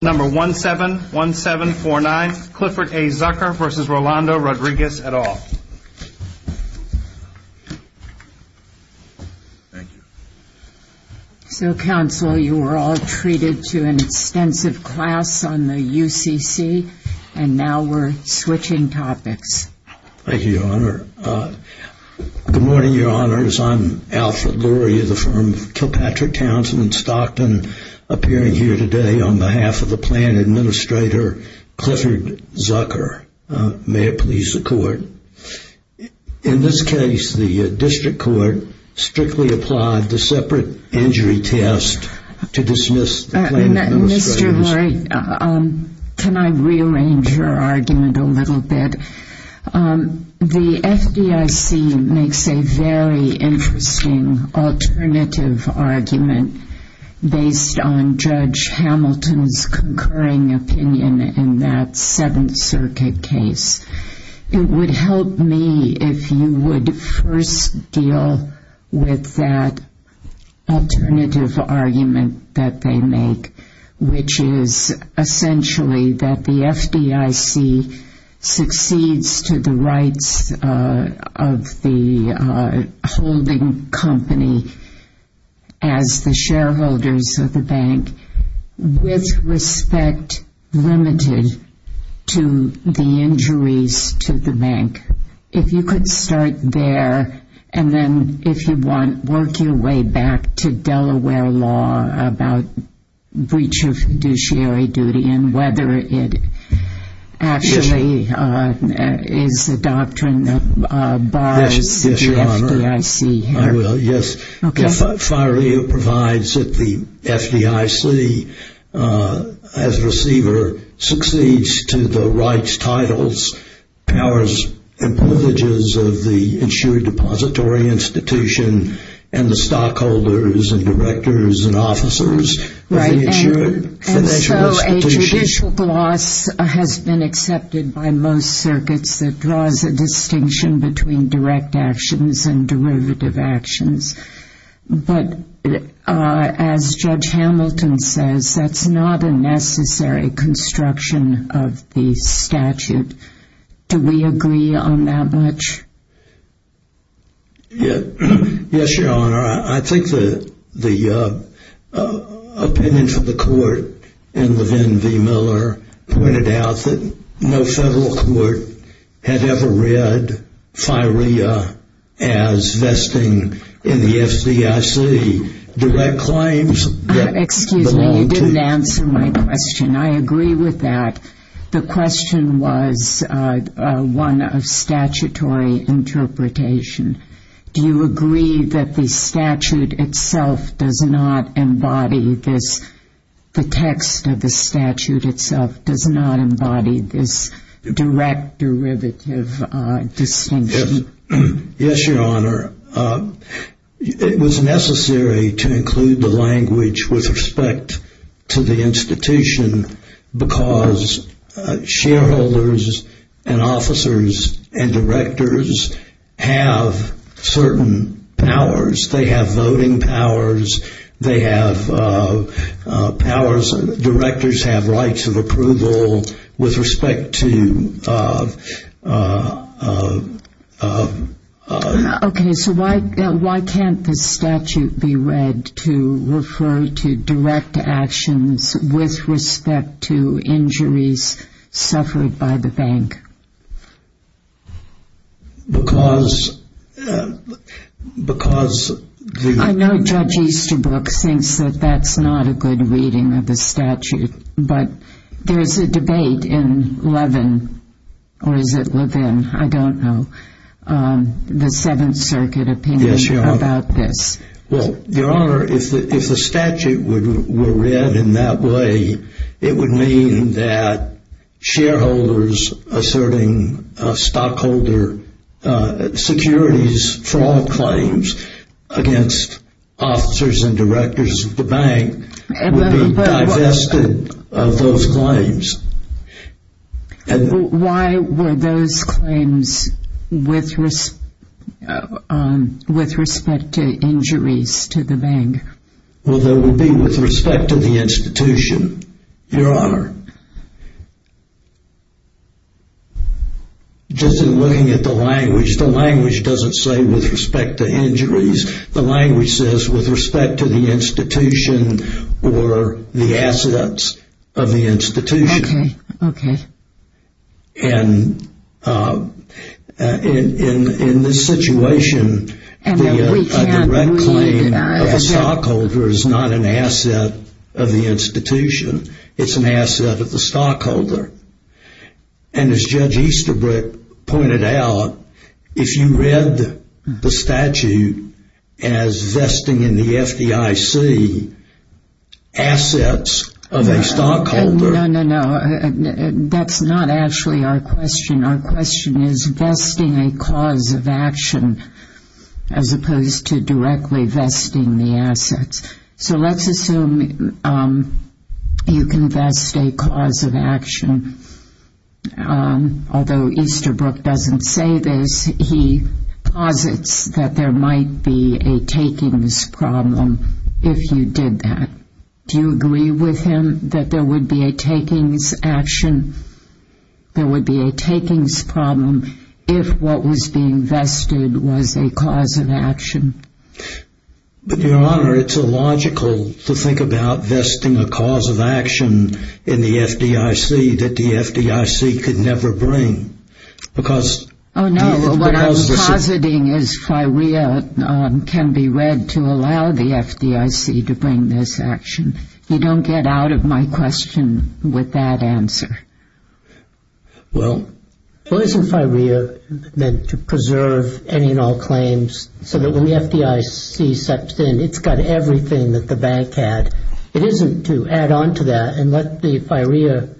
Number 171749 Clifford A. Zucker v. Rolando Rodriguez et al. So counsel, you were all treated to an extensive class on the UCC. And now we're switching topics. Thank you, Your Honor. Good morning, Your Honors. I'm Alfred Lurie, the firm of Kilpatrick Townsend in Stockton, appearing here today on behalf of the plan administrator, Clifford Zucker. May it please the court. In this case, the district court strictly applied the separate injury test to dismiss the plan administrator. Mr. Lurie, can I rearrange your argument a little bit? The FDIC makes a very interesting alternative argument based on Judge Hamilton's concurring opinion in that Seventh Circuit case. It would help me if you would first deal with that the rights of the holding company as the shareholders of the bank with respect limited to the injuries to the bank. If you could start there, and then if you want, work your way back to Delaware law about breach of judiciary duty and whether it actually is a doctrine that bars the FDIC. I will, yes. The FIRA provides that the FDIC as receiver succeeds to the rights, titles, powers, and privileges of the insured depository institution and the stockholders and directors and officers of the insured financial institutions. So a judicial gloss has been accepted by most circuits that draws a distinction between direct actions and derivative actions, but as Judge Hamilton says, that's not a necessary construction of the statute. Do we agree on that much? Yes, Your Honor. I think the opinion from the court and the Vin V. Miller pointed out that no federal court had ever read FIRA as vesting in the FDIC direct claims. Excuse me, you didn't answer my question. I agree with that. The question was one of statutory interpretation. Do you agree that the statute itself does not embody this, the text of the statute itself does not embody this direct derivative distinction? Yes, Your Honor. It was necessary to include the language with respect to the institution because shareholders and officers and directors have certain powers. They have voting powers, they have powers, directors have rights of approval with respect to the institution. Okay, so why can't the statute be read to refer to direct actions with respect to injuries suffered by the bank? Because... I know Judge Easterbrook thinks that that's not a good reading of the statute, but there's a debate in Levin, or is it Levin, I don't know, the Seventh Circuit opinion about this. Well, Your Honor, if the statute were read in that way, it would mean that shareholders asserting stockholder securities fraud claims against officers and directors of the bank would be divested of those claims. Why were those claims with respect to injuries to the bank? Well, they would be with respect to the institution, Your Honor. Just looking at the language, the language doesn't say with respect to injuries. The language says with respect to the institution or the assets of the institution. Okay, okay. And in this situation, a direct claim of a stockholder is not an asset of the institution, it's an asset of the stockholder. And as Judge Easterbrook pointed out, if you read the statute, as vesting in the FDIC assets of a stockholder... No, no, no. That's not actually our question. Our question is vesting a cause of action as opposed to directly vesting the assets. So let's assume you can vest a cause of action. Although Easterbrook doesn't say this, he posits that there might be a takings problem if you did that. Do you agree with him that there would be a takings action? There would be a takings problem if what was being vested was a cause of action. But Your Honor, it's illogical to think about vesting a cause of action in the FDIC that the FDIC could never bring because... Oh no, what I'm positing is FIREA can be read to allow the FDIC to bring this action. You don't get out of my question with that answer. Well, isn't FIREA meant to preserve any and all claims so that when the FDIC steps in, it's got everything that the bank had? It isn't to add on to that and let the FIREA,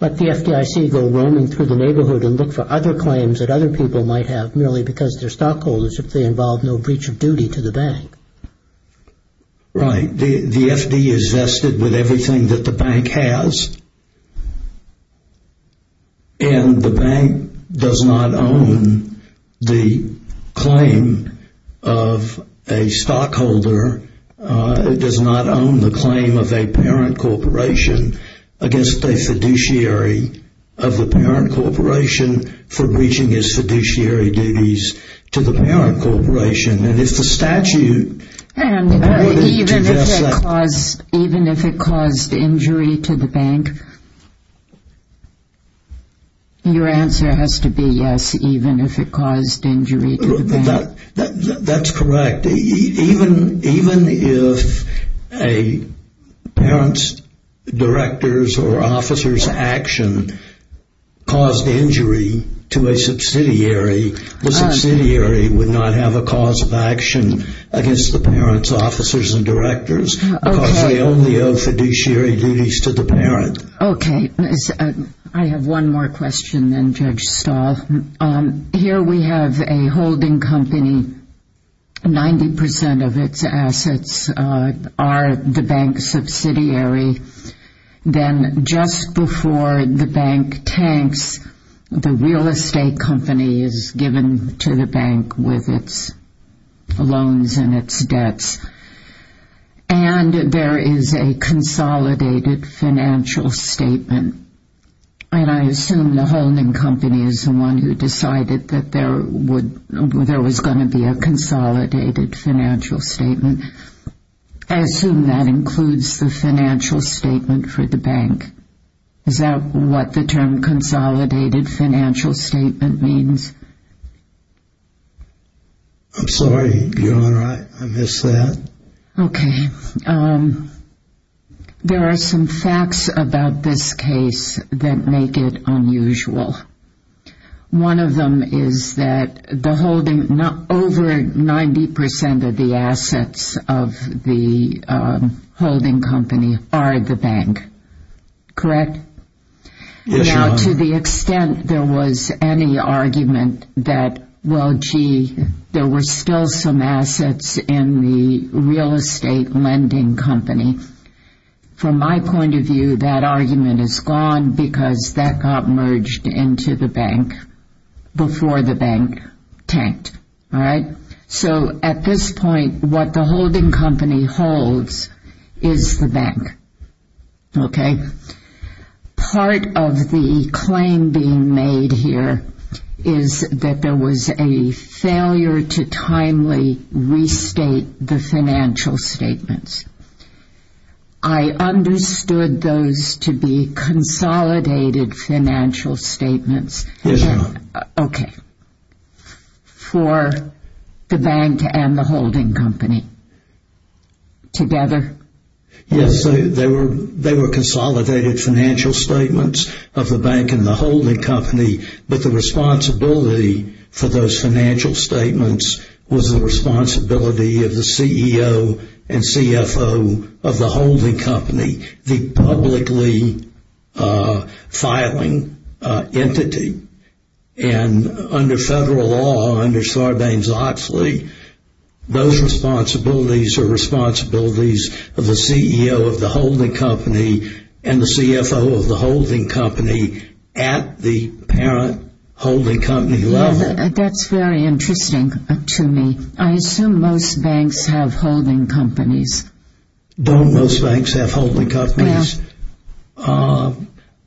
let the FDIC go roaming through the neighborhood and look for other claims that other people might have merely because they're stockholders if they involve no breach of duty to the bank. Right. The FD is vested with everything that the bank has. And the bank does not own the claim of a stockholder, does not own the claim of a corporation against a fiduciary of the parent corporation for breaching his fiduciary duties to the parent corporation. And if the statute... Even if it caused injury to the bank? Your answer has to be yes, even if it caused injury to the bank. That's correct. Even if a parent's director's or officer's action caused injury to a subsidiary, the subsidiary would not have a cause of action against the parent's officers and directors because they only owe fiduciary duties to the parent. Okay. I have one more question then Judge Stahl. Here we have a holding company, 90% of its assets are the bank subsidiary. Then just before the bank tanks, the real estate company is given to the bank with its loans and its debts. And there is a consolidated financial statement. And I assume the holding company is the one who decided that there was going to be a consolidated financial statement. I assume that includes the financial statement for the bank. Is that what the term consolidated financial statement means? I'm sorry, Your Honor. I missed that. Okay. There are some facts about this case that make it unusual. One of them is that the holding, over 90% of the assets of the holding company are the bank. Correct? Yes, Your Honor. To the extent there was any argument that, well, gee, there were still some assets in the real estate lending company. From my point of view, that argument is gone because that got merged into the bank before the bank tanked. All right. So at this point, what the holding company holds is the bank. Okay? Part of the claim being made here is that there was a failure to timely restate the financial statements. I understood those to be consolidated financial statements. Yes, Your Honor. Okay. For the bank and the holding company together? Yes. They were consolidated financial statements of the bank and the holding company, but the responsibility for those financial statements was the responsibility of the CEO and CFO of the holding company, the publicly filing entity. And under federal law, under Sarbanes-Oxley, those responsibilities are responsibilities of the CEO of the holding company and the CFO of the holding company at the parent holding company level. That's very interesting to me. I assume most banks have holding companies. Don't most banks have holding companies? No.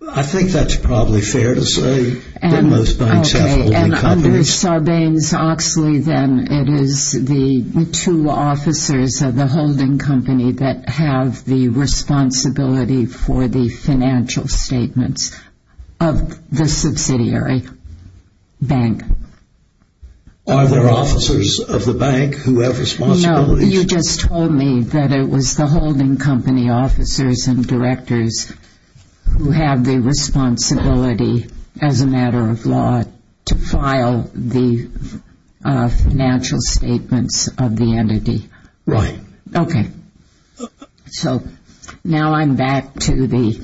I think that's probably fair to say. Okay. And under Sarbanes-Oxley, then, it is the two officers of the holding company that have the responsibility for the financial statements of the subsidiary bank. Are there officers of the bank who have responsibilities? No. You just told me that it was the holding company officers and directors who have the responsibility as a matter of law to file the financial statements of the entity. Right. Okay. So now I'm back to the...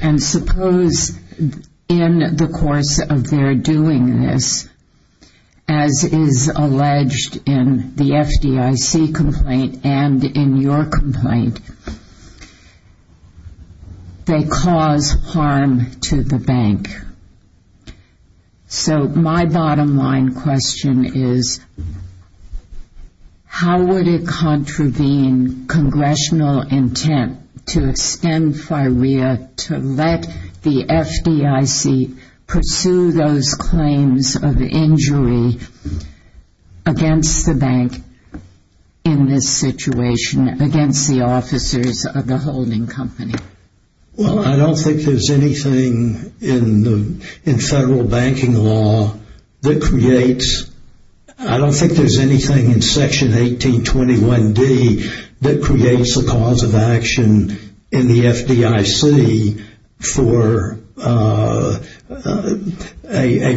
And suppose in the course of their doing this, as is alleged in the FDIC complaint and in your complaint, they cause harm to the bank. So my bottom line question is, how would it contravene congressional intent to extend FIREA to let the FDIC pursue those claims of injury against the bank in this situation against the officers of the holding company? Well, I don't think there's anything in federal banking law that creates... I don't think there's anything in Section 1821D that creates a cause of action in the FDIC for a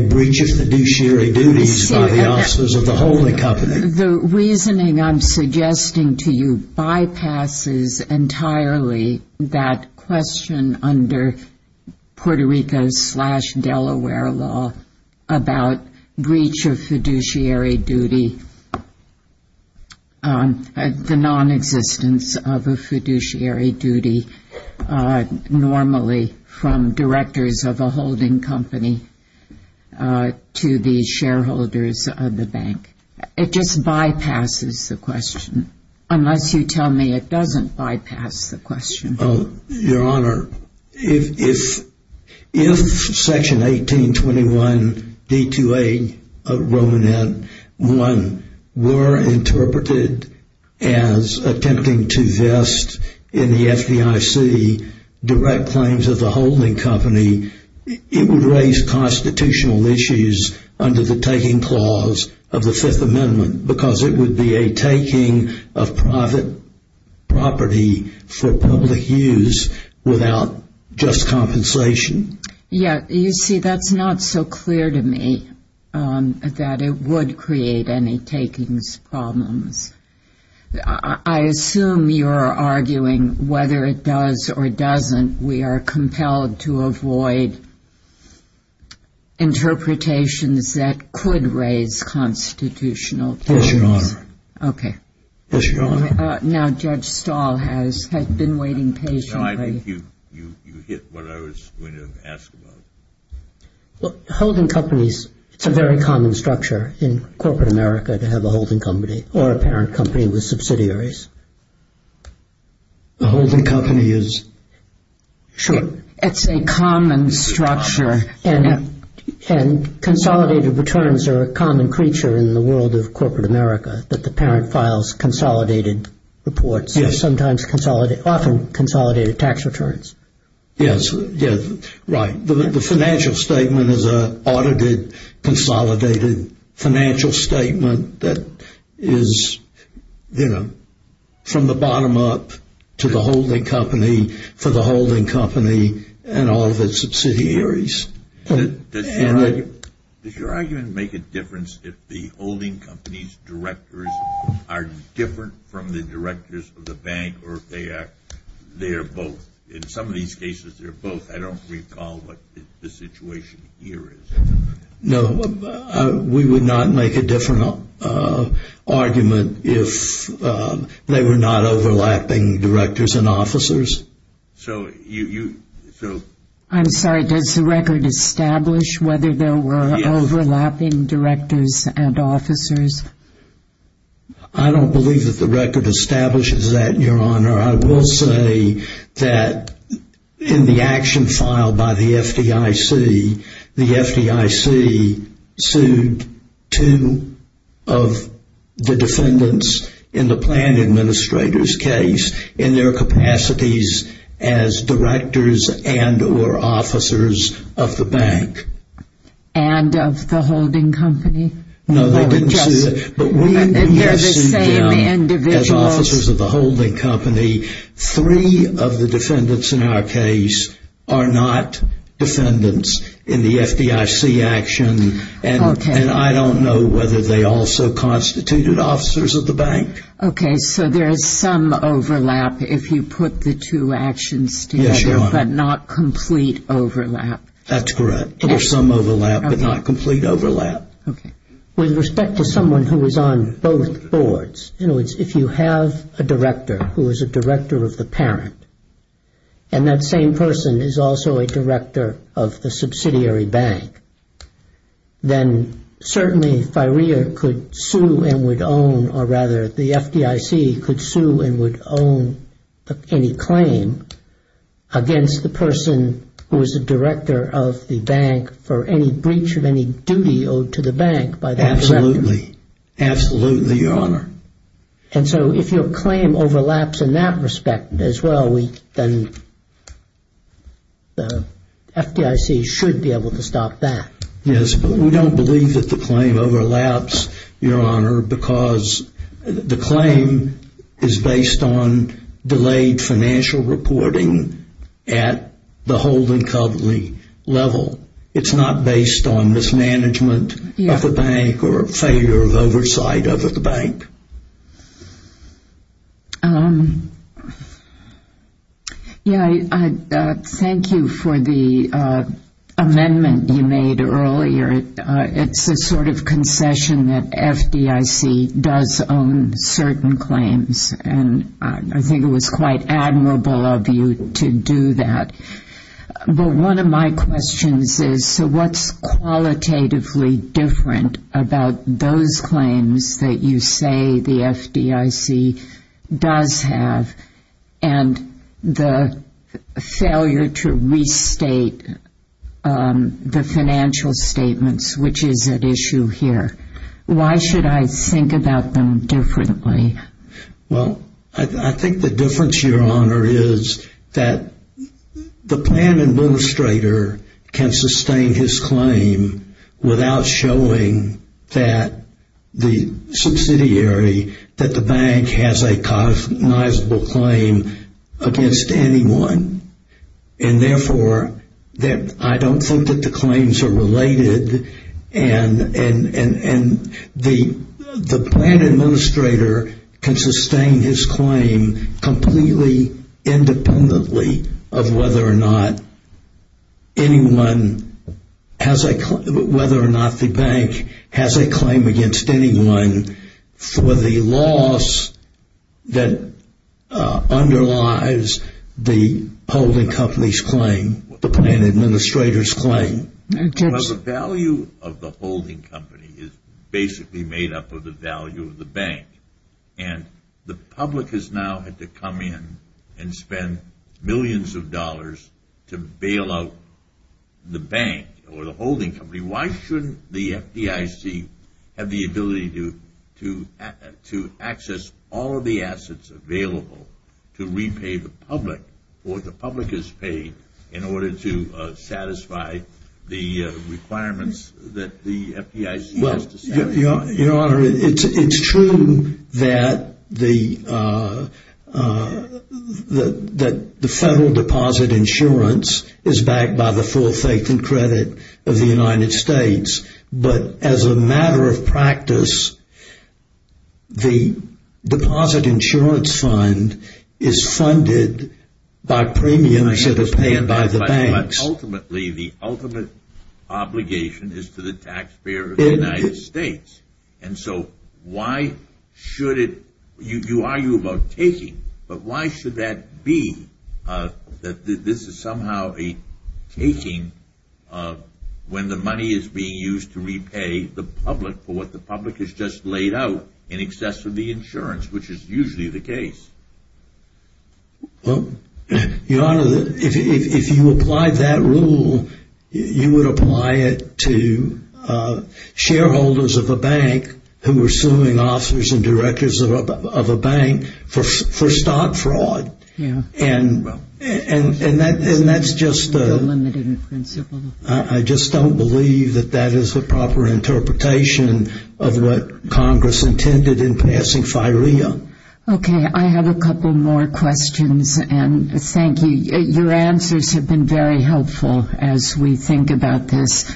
breach of fiduciary duties by the officers of the holding company. The reasoning I'm suggesting to you bypasses entirely that question under Puerto Rico's Delaware law about breach of fiduciary duty, the non-existence of a fiduciary duty normally from directors of a holding company to the shareholders of the bank. It just bypasses the question, unless you tell me it doesn't bypass the question. Oh, Your Honor, if Section 1821D2A of Romanet 1 were interpreted as attempting to vest in the FDIC direct claims of the holding company, it would raise constitutional issues under the taking clause of the Fifth Amendment because it would be a taking of private property for public use without just compensation. Yeah, you see, that's not so clear to me that it would create any takings problems. I assume you're arguing whether it does or doesn't, we are compelled to avoid interpretations that could raise constitutional issues. Yes, Your Honor. Okay. Yes, Your Honor. Now, Judge Stahl has been waiting patiently. No, I think you hit what I was going to ask about. Well, holding companies, it's a very common structure in corporate America to have a holding company or a parent company with subsidiaries. A holding company is? Sure. It's a common structure. And consolidated returns are a common creature in the world of corporate America, that the parent files consolidated reports and sometimes often consolidated tax returns. Yes, yes, right. The financial statement is an audited, consolidated financial statement that is, you know, from the bottom up to the holding company for the holding company and all of its subsidiaries. Does your argument make a difference if the holding company's directors are different from the directors of the bank or if they are both? In some of these cases, they're both. I don't recall what the situation here is. No, we would not make a different argument if they were not overlapping directors and officers. So you, so. I'm sorry, does the record establish whether there were overlapping directors and officers? I don't believe that the record establishes that, Your Honor. I will say that in the action filed by the FDIC, the FDIC sued two of the defendants in the plan administrator's case in their capacities as directors and or officers of the bank. And of the holding company? No, they didn't sue it. And they're the same individuals? Yes and no, as officers of the holding company, three of the defendants in our case are not defendants in the FDIC action. And I don't know whether they also constituted officers of the bank. OK, so there is some overlap if you put the two actions together, but not complete overlap. That's correct. There's some overlap, but not complete overlap. With respect to someone who is on both boards, in other words, if you have a director who is a director of the parent, and that same person is also a director of the subsidiary bank, then certainly FIREA could sue and would own, or rather the FDIC could sue and would own any claim against the person who is a director of the bank for any breach of any bank by the director. Absolutely. Absolutely, Your Honor. And so if your claim overlaps in that respect as well, then the FDIC should be able to stop that. Yes, but we don't believe that the claim overlaps, Your Honor, because the claim is based on delayed financial reporting at the holding company level. It's not based on mismanagement of the bank or failure of oversight of the bank. Yeah, I thank you for the amendment you made earlier. It's a sort of concession that FDIC does own certain claims, and I think it was quite admirable of you to do that. But one of my questions is, so what's qualitatively different about those claims that you say the FDIC does have and the failure to restate the financial statements, which is at issue here? Why should I think about them differently? Well, I think the difference, Your Honor, is that the plan administrator can sustain his claim without showing that the subsidiary, that the bank has a cognizable claim against anyone. And therefore, I don't think that the claims are related, and the plan administrator can sustain his claim completely independently of whether or not the bank has a claim against anyone for the loss that underlies the holding company's claim, the plan administrator's claim. Well, the value of the holding company is basically made up of the value of the bank. And the public has now had to come in and spend millions of dollars to bail out the bank or the holding company. Why shouldn't the FDIC have the ability to access all of the assets available to repay the public for what the public has paid in order to satisfy the requirements that the FDIC has to satisfy? Your Honor, it's true that the federal deposit insurance is backed by the full faith and authority of the United States, but as a matter of practice, the deposit insurance fund is funded by premiums that are paid by the banks. But ultimately, the ultimate obligation is to the taxpayer of the United States. And so why should it, you argue about taking, but why should that be that this is somehow taking when the money is being used to repay the public for what the public has just laid out in excess of the insurance, which is usually the case? Well, Your Honor, if you apply that rule, you would apply it to shareholders of a bank who are suing officers and directors of a bank for stock fraud. And that's just, I just don't believe that that is the proper interpretation of what Congress intended in passing FIREA. Okay, I have a couple more questions and thank you. Your answers have been very helpful as we think about this.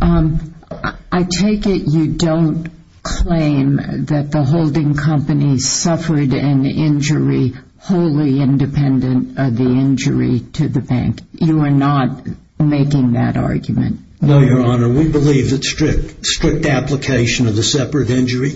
Um, I take it you don't claim that the holding company suffered an injury wholly independent of the injury to the bank. You are not making that argument. No, Your Honor, we believe that strict, strict application of the separate injury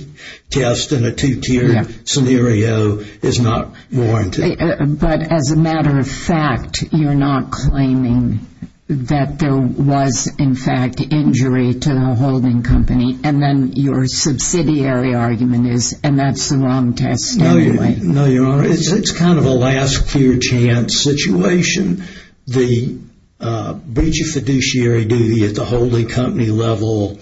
test and a two-tiered scenario is not warranted. But as a matter of fact, you're not claiming that there was in fact injury to the holding company and then your subsidiary argument is, and that's the wrong test anyway. No, Your Honor, it's kind of a last clear chance situation. The breach of fiduciary duty at the holding company level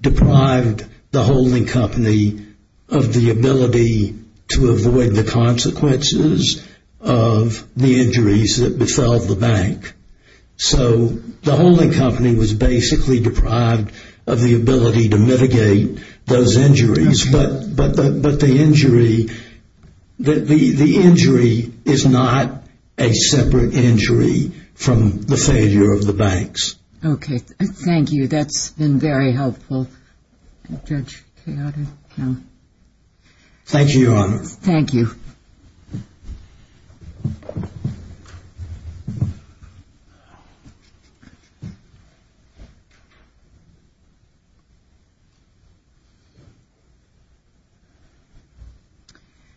deprived the holding company of the ability to avoid the consequences of the injuries that befell the bank. So the holding company was basically deprived of the ability to mitigate those injuries. But the injury, the injury is not a separate injury from the failure of the banks. Okay. Thank you. That's been very helpful. Judge Keoda. Thank you, Your Honor. Thank you.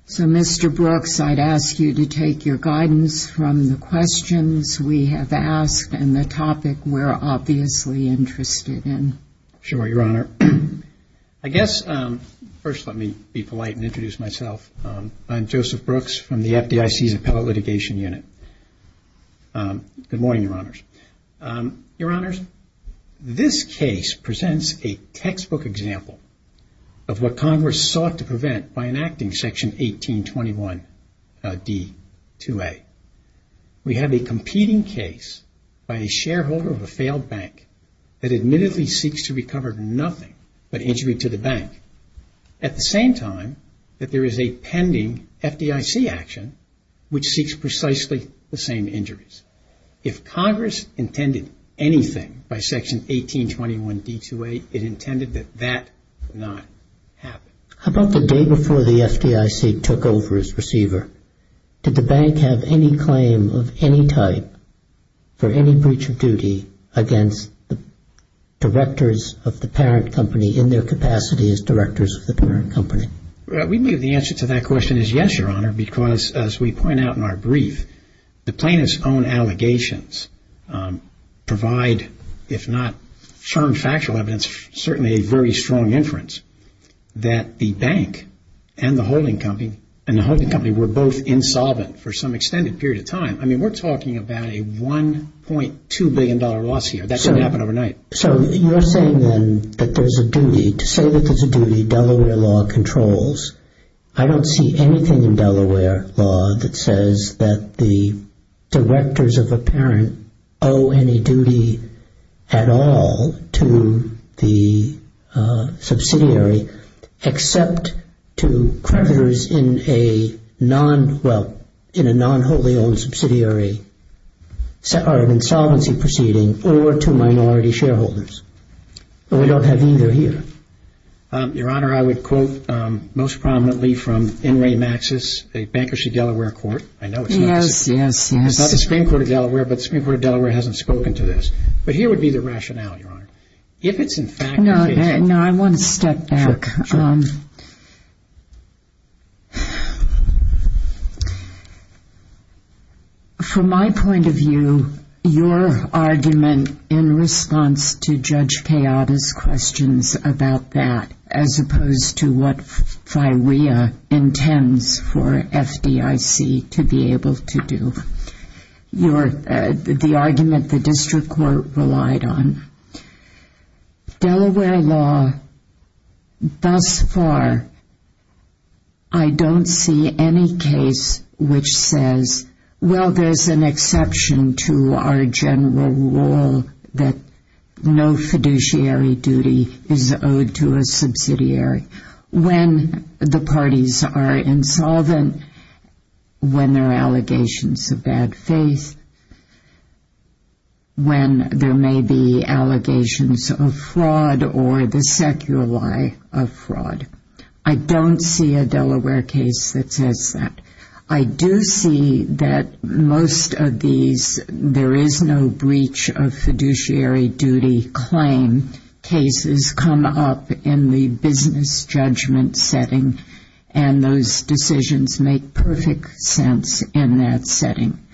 So Mr. Brooks, I'd ask you to take your guidance from the questions we have asked and the topic we're obviously interested in. Sure, Your Honor. I guess, first, let me be polite and introduce myself. I'm Joseph Brooks from the FDIC's Appellate Litigation Unit. Good morning, Your Honors. Your Honors, this case presents a textbook example of what Congress sought to prevent by enacting Section 1821 D-2A. We have a competing case by a shareholder of a failed bank that admittedly seeks to recover nothing but injury to the bank at the same time that there is a pending FDIC action which seeks precisely the same injuries. If Congress intended anything by Section 1821 D-2A, it intended that that not happen. How about the day before the FDIC took over as receiver? Did the bank have any claim of any type for any breach of duty against the directors of the parent company in their capacity as directors of the parent company? We believe the answer to that question is yes, Your Honor, because as we point out in our brief, the plaintiff's own allegations provide, if not firm factual evidence, certainly a very strong inference that the bank and the holding company were both insolvent for some extended period of time. I mean, we're talking about a $1.2 billion loss here. That shouldn't happen overnight. So you're saying then that there's a duty, to say that there's a duty Delaware law controls, I don't see anything in Delaware law that says that the directors of a parent owe any duty at all to the subsidiary except to creditors in a non, well, in a non-wholly owned subsidiary or an insolvency proceeding or to minority shareholders. But we don't have either here. Your Honor, I would quote most prominently from N. Ray Maxis, a bankers of Delaware court. I know it's not the Supreme Court of Delaware, but the Supreme Court of Delaware hasn't spoken to this. But here would be the rationale, Your Honor. If it's in fact... No, I want to step back. From my point of view, your argument in response to Judge Kayada's questions about that, as opposed to what FIWEA intends for FDIC to be able to do. Your, the argument the district court relied on. Delaware law, thus far, I don't see any case which says, well, there's an exception to our general rule that no fiduciary duty is owed to a subsidiary. When the parties are insolvent, when there are allegations of bad faith, when there may be allegations of fraud or the secular lie of fraud, I don't see a Delaware case that says that. I do see that most of these, there is no breach of fiduciary duty claim cases come up in the business judgment setting and those decisions make perfect sense in that setting.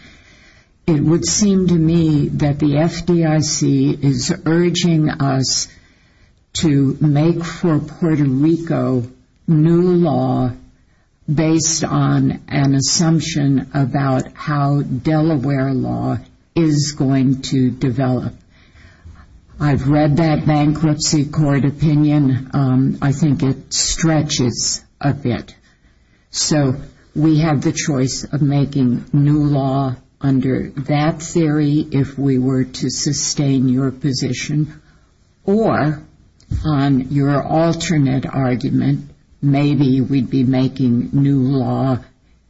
It would seem to me that the FDIC is urging us to make for Puerto Rico new law based on an assumption about how Delaware law is going to develop. I've read that bankruptcy court opinion. I think it stretches a bit. We have the choice of making new law under that theory if we were to sustain your position or on your alternate argument, maybe we'd be making new law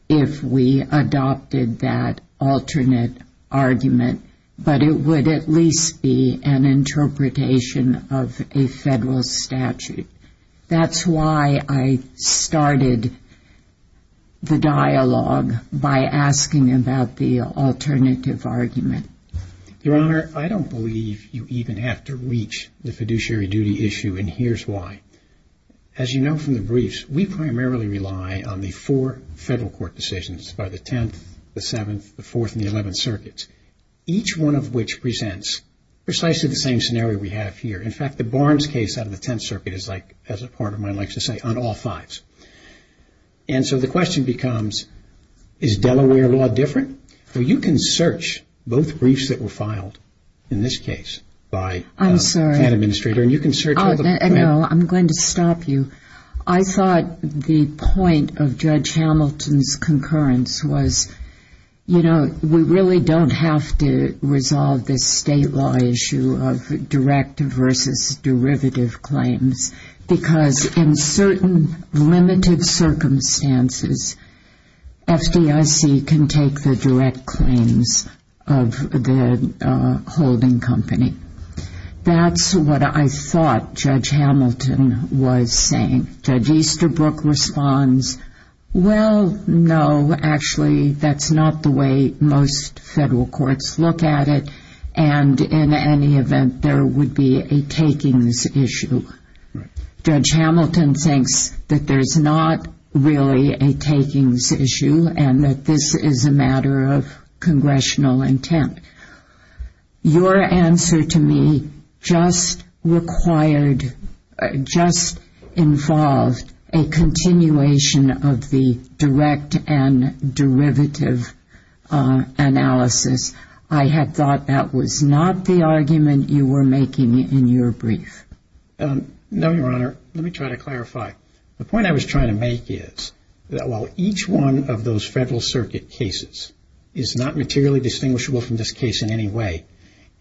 if we adopted that alternate argument, but it would at least be an interpretation of a federal statute. That's why I started the dialogue by asking about the alternative argument. Your Honor, I don't believe you even have to reach the fiduciary duty issue and here's why. As you know from the briefs, we primarily rely on the four federal court decisions by the 10th, the 7th, the 4th, and the 11th circuits, each one of which presents precisely the same scenario we have here. In fact, the Barnes case out of the 10th circuit is like, as a part of mine likes to say, on all fives. So the question becomes, is Delaware law different? You can search both briefs that were filed in this case by an administrator and you can search all the plaintiffs. I'm going to stop you. I thought the point of Judge Hamilton's concurrence was, you know, we really don't have to resolve this state law issue of direct versus derivative claims because in certain limited circumstances, FDIC can take the direct claims of the holding company. That's what I thought Judge Hamilton was saying. Judge Easterbrook responds, well, no, actually that's not the way most federal courts look at it and in any event, there would be a takings issue. Judge Hamilton thinks that there's not really a takings issue and that this is a matter of congressional intent. Your answer to me just required, just involved a continuation of the direct and derivative analysis. I had thought that was not the argument you were making in your brief. No, Your Honor. Let me try to clarify. The point I was trying to make is that while each one of those federal circuit cases is not materially distinguishable from this case in any way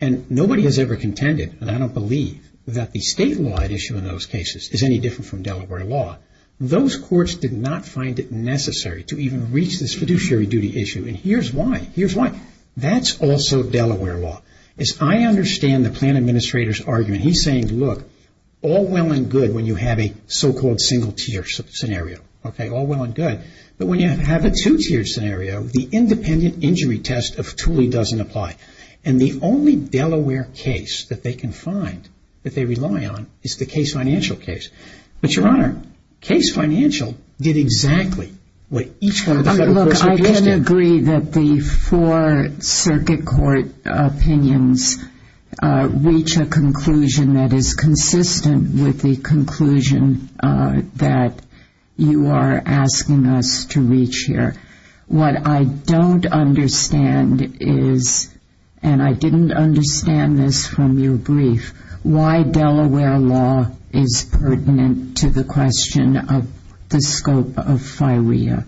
and nobody has ever contended, and I don't believe, that the statewide issue in those cases is any different from Delaware law, those courts did not find it necessary to even reach this fiduciary duty issue and here's why. That's also Delaware law. As I understand the Plaintiff Administrator's argument, he's saying, look, all well and good when you have a so-called single tier scenario, all well and good, but when you have a two tier scenario, the independent injury test of Tooley doesn't apply. And the only Delaware case that they can find that they rely on is the case financial case. But Your Honor, case financial did exactly what each one of the federal courts did. Look, I can agree that the four circuit court opinions reach a conclusion that is consistent with the conclusion that you are asking us to reach here. What I don't understand is, and I didn't understand this from your brief, why Delaware law is pertinent to the question of the scope of FIREA.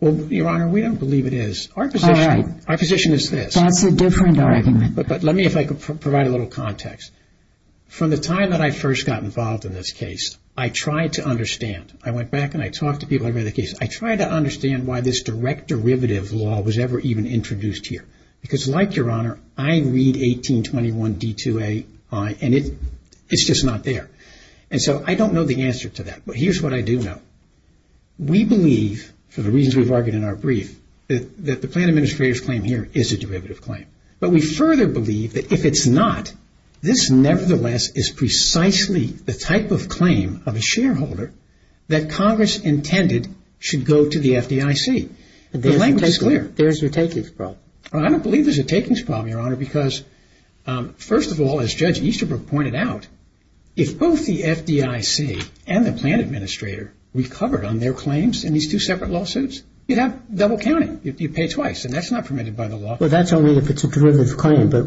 Well, Your Honor, we don't believe it is. All right. Our position is this. That's a different argument. But let me, if I could provide a little context. From the time that I first got involved in this case, I tried to understand. I went back and I talked to people. I read the case. I tried to understand why this direct derivative law was ever even introduced here. Because like Your Honor, I read 1821 D2AI and it's just not there. And so I don't know the answer to that. But here's what I do know. We believe, for the reasons we've argued in our brief, that the Plaintiff Administrator's claim here is a derivative claim. But we further believe that if it's not, this nevertheless is precisely the type of claim of a shareholder that Congress intended should go to the FDIC. The language is clear. There's your takings problem. I don't believe there's a takings problem, Your Honor, because first of all, as Judge Easterbrook pointed out, if both the FDIC and the Plaintiff Administrator recovered on their claims in these two separate lawsuits, you'd have double counting. You'd pay twice. And that's not permitted by the law. Well, that's only if it's a derivative claim. But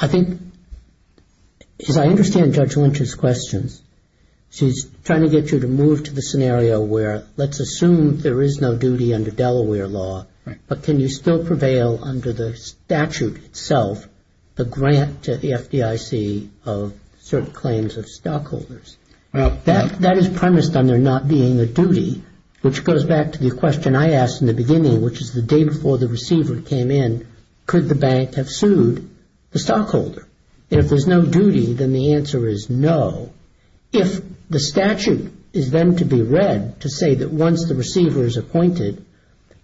I think, as I understand Judge Lynch's questions, she's trying to get you to move to the scenario where let's assume there is no duty under Delaware law, but can you still prevail under the statute itself, the grant to the FDIC of certain claims of stockholders? That is premised on there not being a duty, which goes back to the question I asked in the beginning, which is the day before the receiver came in, could the bank have sued the stockholder? And if there's no duty, then the answer is no. If the statute is then to be read to say that once the receiver is appointed,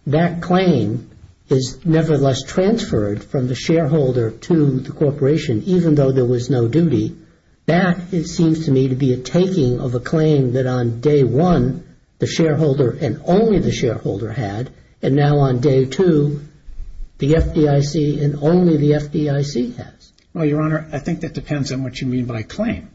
that claim is nevertheless transferred from the shareholder to the corporation, even though there was no duty, that, it seems to me, to be a taking of a claim that on day one, the shareholder and only the shareholder had, and now on day two, the FDIC and only the FDIC has. Well, Your Honor, I think that depends on what you mean by claim.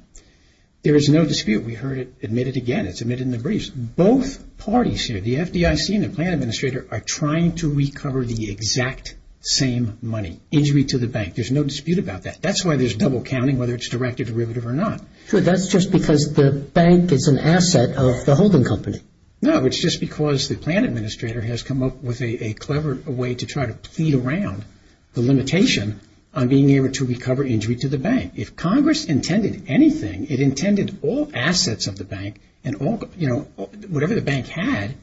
There is no dispute. We heard it admitted again. It's admitted in the briefs. Both parties here, the FDIC and the plan administrator, are trying to recover the exact same money, injury to the bank. There's no dispute about that. That's why there's double counting, whether it's direct or derivative or not. Sure, that's just because the bank is an asset of the holding company. No, it's just because the plan administrator has come up with a clever way to try to plead around the limitation on being able to recover injury to the bank. If Congress intended anything, it intended all assets of the bank and whatever the bank had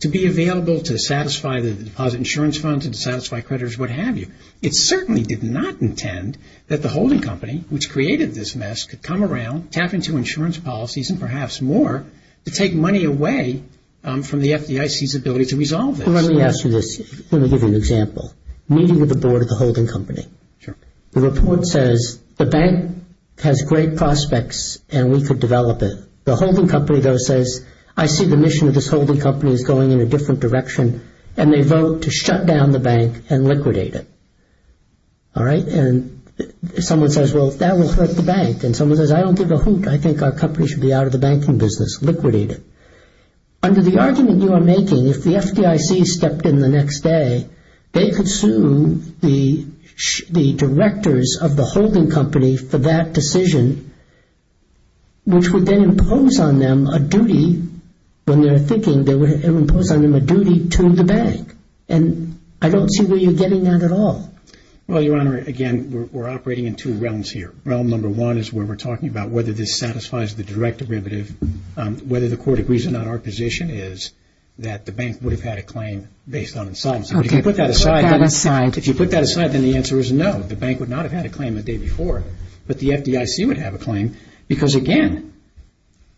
to be available to satisfy the deposit insurance funds and satisfy creditors, what have you. It certainly did not intend that the holding company, which created this mess, could come tap into insurance policies and perhaps more to take money away from the FDIC's ability to resolve this. Let me ask you this. Let me give you an example. Meeting with the board of the holding company. Sure. The report says the bank has great prospects and we could develop it. The holding company, though, says, I see the mission of this holding company is going in a different direction and they vote to shut down the bank and liquidate it. All right. And someone says, well, that will hurt the bank. And someone says, I don't give a hoot. I think our company should be out of the banking business. Liquidate it. Under the argument you are making, if the FDIC stepped in the next day, they could sue the directors of the holding company for that decision, which would then impose on them a duty when they're thinking they would impose on them a duty to the bank. And I don't see where you're getting that at all. Well, Your Honor, again, we're operating in two realms here. Realm number one is where we're talking about whether this satisfies the direct derivative, whether the court agrees or not. Our position is that the bank would have had a claim based on assignment. So if you put that aside. If you put that aside, then the answer is no. The bank would not have had a claim the day before. But the FDIC would have a claim because, again,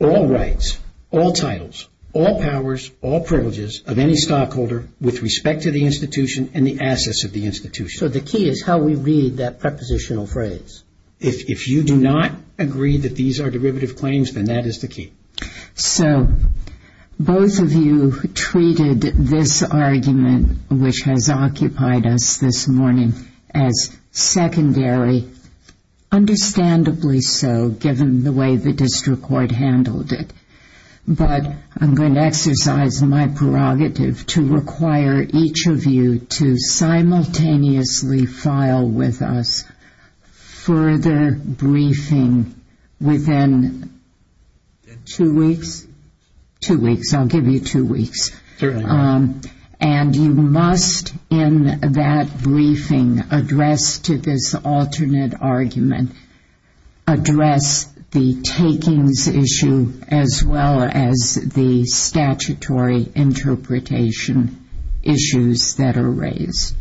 all rights, all titles, all powers, all privileges of any stockholder with respect to the institution and the assets of the institution. So the key is how we read that prepositional phrase. If you do not agree that these are derivative claims, then that is the key. So both of you treated this argument, which has occupied us this morning, as secondary, understandably so, given the way the district court handled it. But I'm going to exercise my prerogative to require each of you to simultaneously file with us further briefing within two weeks. Two weeks. I'll give you two weeks. And you must, in that briefing, address to this alternate argument, address the takings issue as well as the statutory interpretation issues that are raised.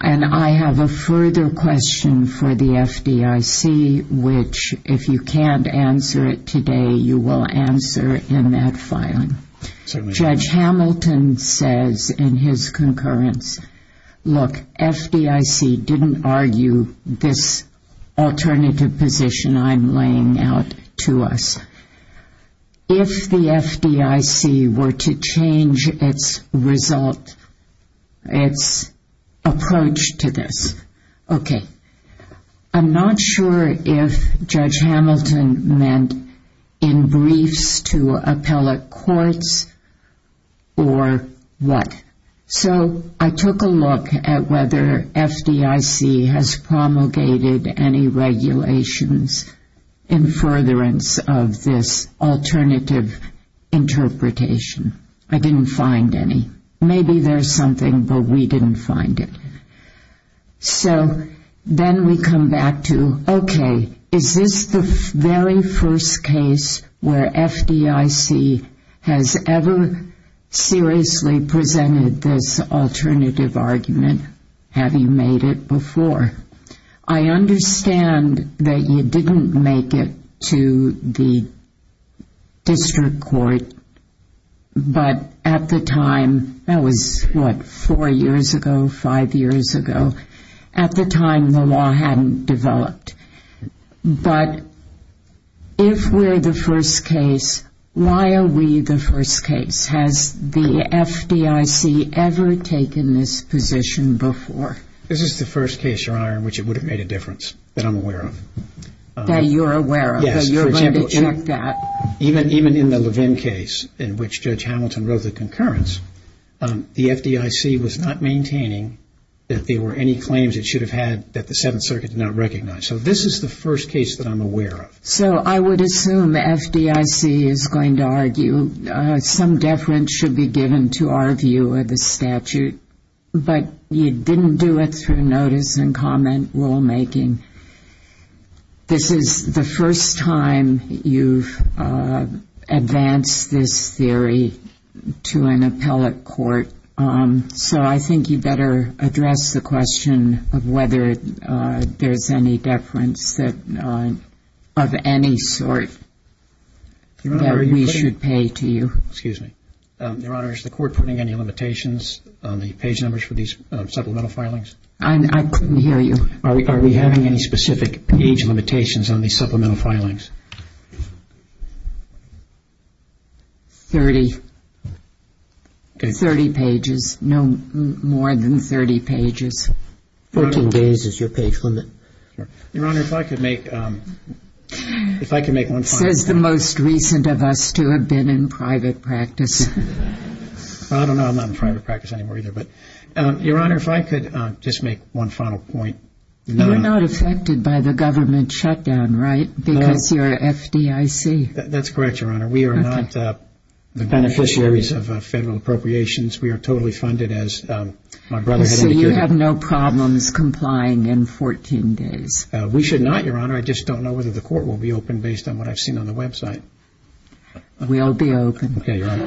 And I have a further question for the FDIC, which, if you can't answer it today, you will answer in that filing. Judge Hamilton says in his concurrence, look, FDIC didn't argue this alternative position I'm laying out to us. If the FDIC were to change its result, its approach to this, okay. I'm not sure if Judge Hamilton meant in briefs to appellate courts or what. So I took a look at whether FDIC has promulgated any regulations in furtherance of this alternative interpretation. I didn't find any. Maybe there's something, but we didn't find it. So then we come back to, okay, is this the very first case where FDIC has ever seriously presented this alternative argument, having made it before? I understand that you didn't make it to the district court, but at the time, that was, what, four years ago, five years ago? At the time, the law hadn't developed. But if we're the first case, why are we the first case? Has the FDIC ever taken this position before? This is the first case, Your Honor, in which it would have made a difference, that I'm aware of. That you're aware of? Yes, for example, even in the Levin case, in which Judge Hamilton wrote the concurrence, the FDIC was not maintaining that there were any claims it should have had that the Seventh Circuit did not recognize. This is the first case that I'm aware of. So I would assume FDIC is going to argue some deference should be given to our view of the statute, but you didn't do it through notice and comment rulemaking. This is the first time you've advanced this theory to an appellate court, so I think you better address the question of whether there's any deference of any sort that we should pay to you. Excuse me. Your Honor, is the court putting any limitations on the page numbers for these supplemental filings? I couldn't hear you. Are we having any specific page limitations on these supplemental filings? Thirty. Thirty pages. No more than thirty pages. Fourteen days is your page limit. Your Honor, if I could make one final point. Says the most recent of us to have been in private practice. I don't know. I'm not in private practice anymore either, but Your Honor, if I could just make one final point. You're not affected by the government shutdown, right? Because you're FDIC. That's correct, Your Honor. We are not the beneficiaries of federal appropriations. We are totally funded as my brother had indicated. So you have no problems complying in 14 days? We should not, Your Honor. I just don't know whether the court will be open based on what I've seen on the website. We'll be open. Okay, Your Honor.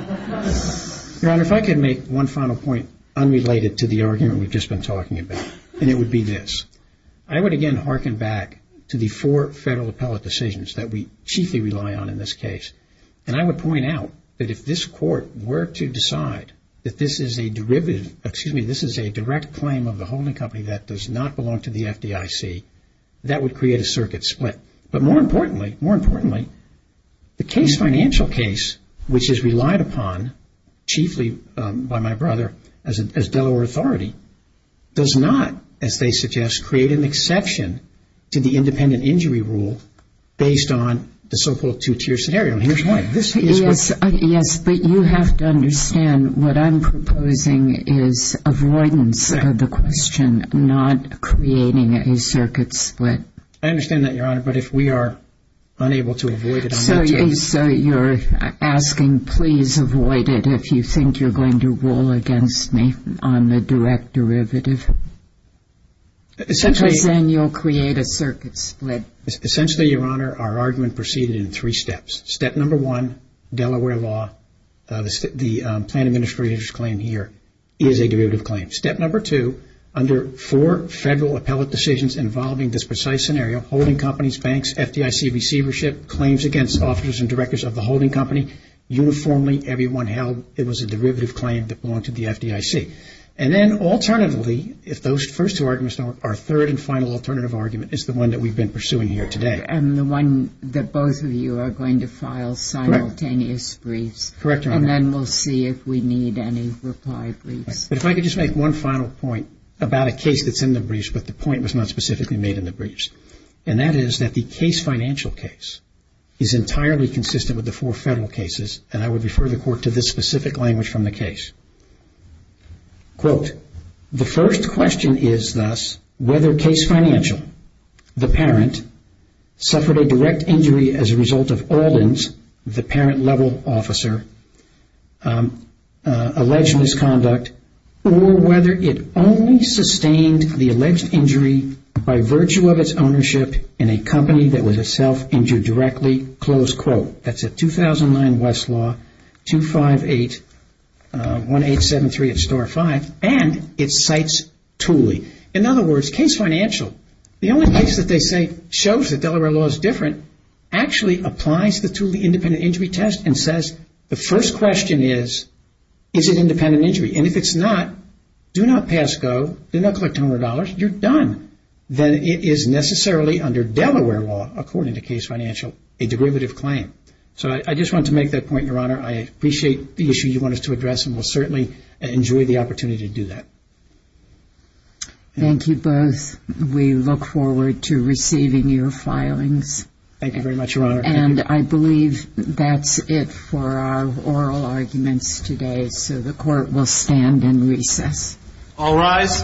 Your Honor, if I could make one final point unrelated to the argument we've just been talking about, and it would be this. I would again hearken back to the four federal appellate decisions that we chiefly rely on in this case, and I would point out that if this court were to decide that this is a derivative, excuse me, this is a direct claim of the holding company that does not belong to the FDIC, that would create a circuit split. But more importantly, the case, financial case, which is relied upon chiefly by my brother as Delaware authority, does not, as they suggest, create an exception to the independent injury rule based on the so-called two-tier scenario. And here's why. Yes, but you have to understand what I'm proposing is avoidance of the question, not creating a circuit split. I understand that, Your Honor. But if we are unable to avoid it on that case. So you're asking, please avoid it if you think you're going to rule against me on the direct derivative? Essentially, Your Honor, our argument proceeded in three steps. Step number one, Delaware law, the plan administrator's claim here is a derivative claim. Step number two, under four federal appellate decisions involving this precise scenario, holding companies, banks, FDIC receivership, claims against officers and directors of the holding company, uniformly everyone held it was a derivative claim that belonged to the FDIC. And then alternatively, if those first two arguments don't work, our third and final alternative argument is the one that we've been pursuing here today. And the one that both of you are going to file simultaneous briefs. Correct, Your Honor. And then we'll see if we need any reply briefs. But if I could just make one final point about a case that's in the briefs, but the point was not specifically made in the briefs. And that is that the case financial case is entirely consistent with the four federal I would refer the court to this specific language from the case. The first question is thus, whether case financial, the parent, suffered a direct injury as a result of Alden's, the parent level officer, alleged misconduct, or whether it only sustained the alleged injury by virtue of its ownership in a company that was itself injured directly. Close quote. That's a 2009 Westlaw 258-1873 at Star 5. And it cites Thule. In other words, case financial, the only case that they say shows that Delaware law is different, actually applies the Thule independent injury test and says, the first question is, is it independent injury? And if it's not, do not pass go, do not collect $100, you're done. Then it is necessarily under Delaware law, according to case financial, a degravative claim. So I just wanted to make that point, Your Honor. I appreciate the issue you want us to address and we'll certainly enjoy the opportunity to do that. Thank you both. We look forward to receiving your filings. Thank you very much, Your Honor. And I believe that's it for our oral arguments today. So the court will stand and recess. All rise.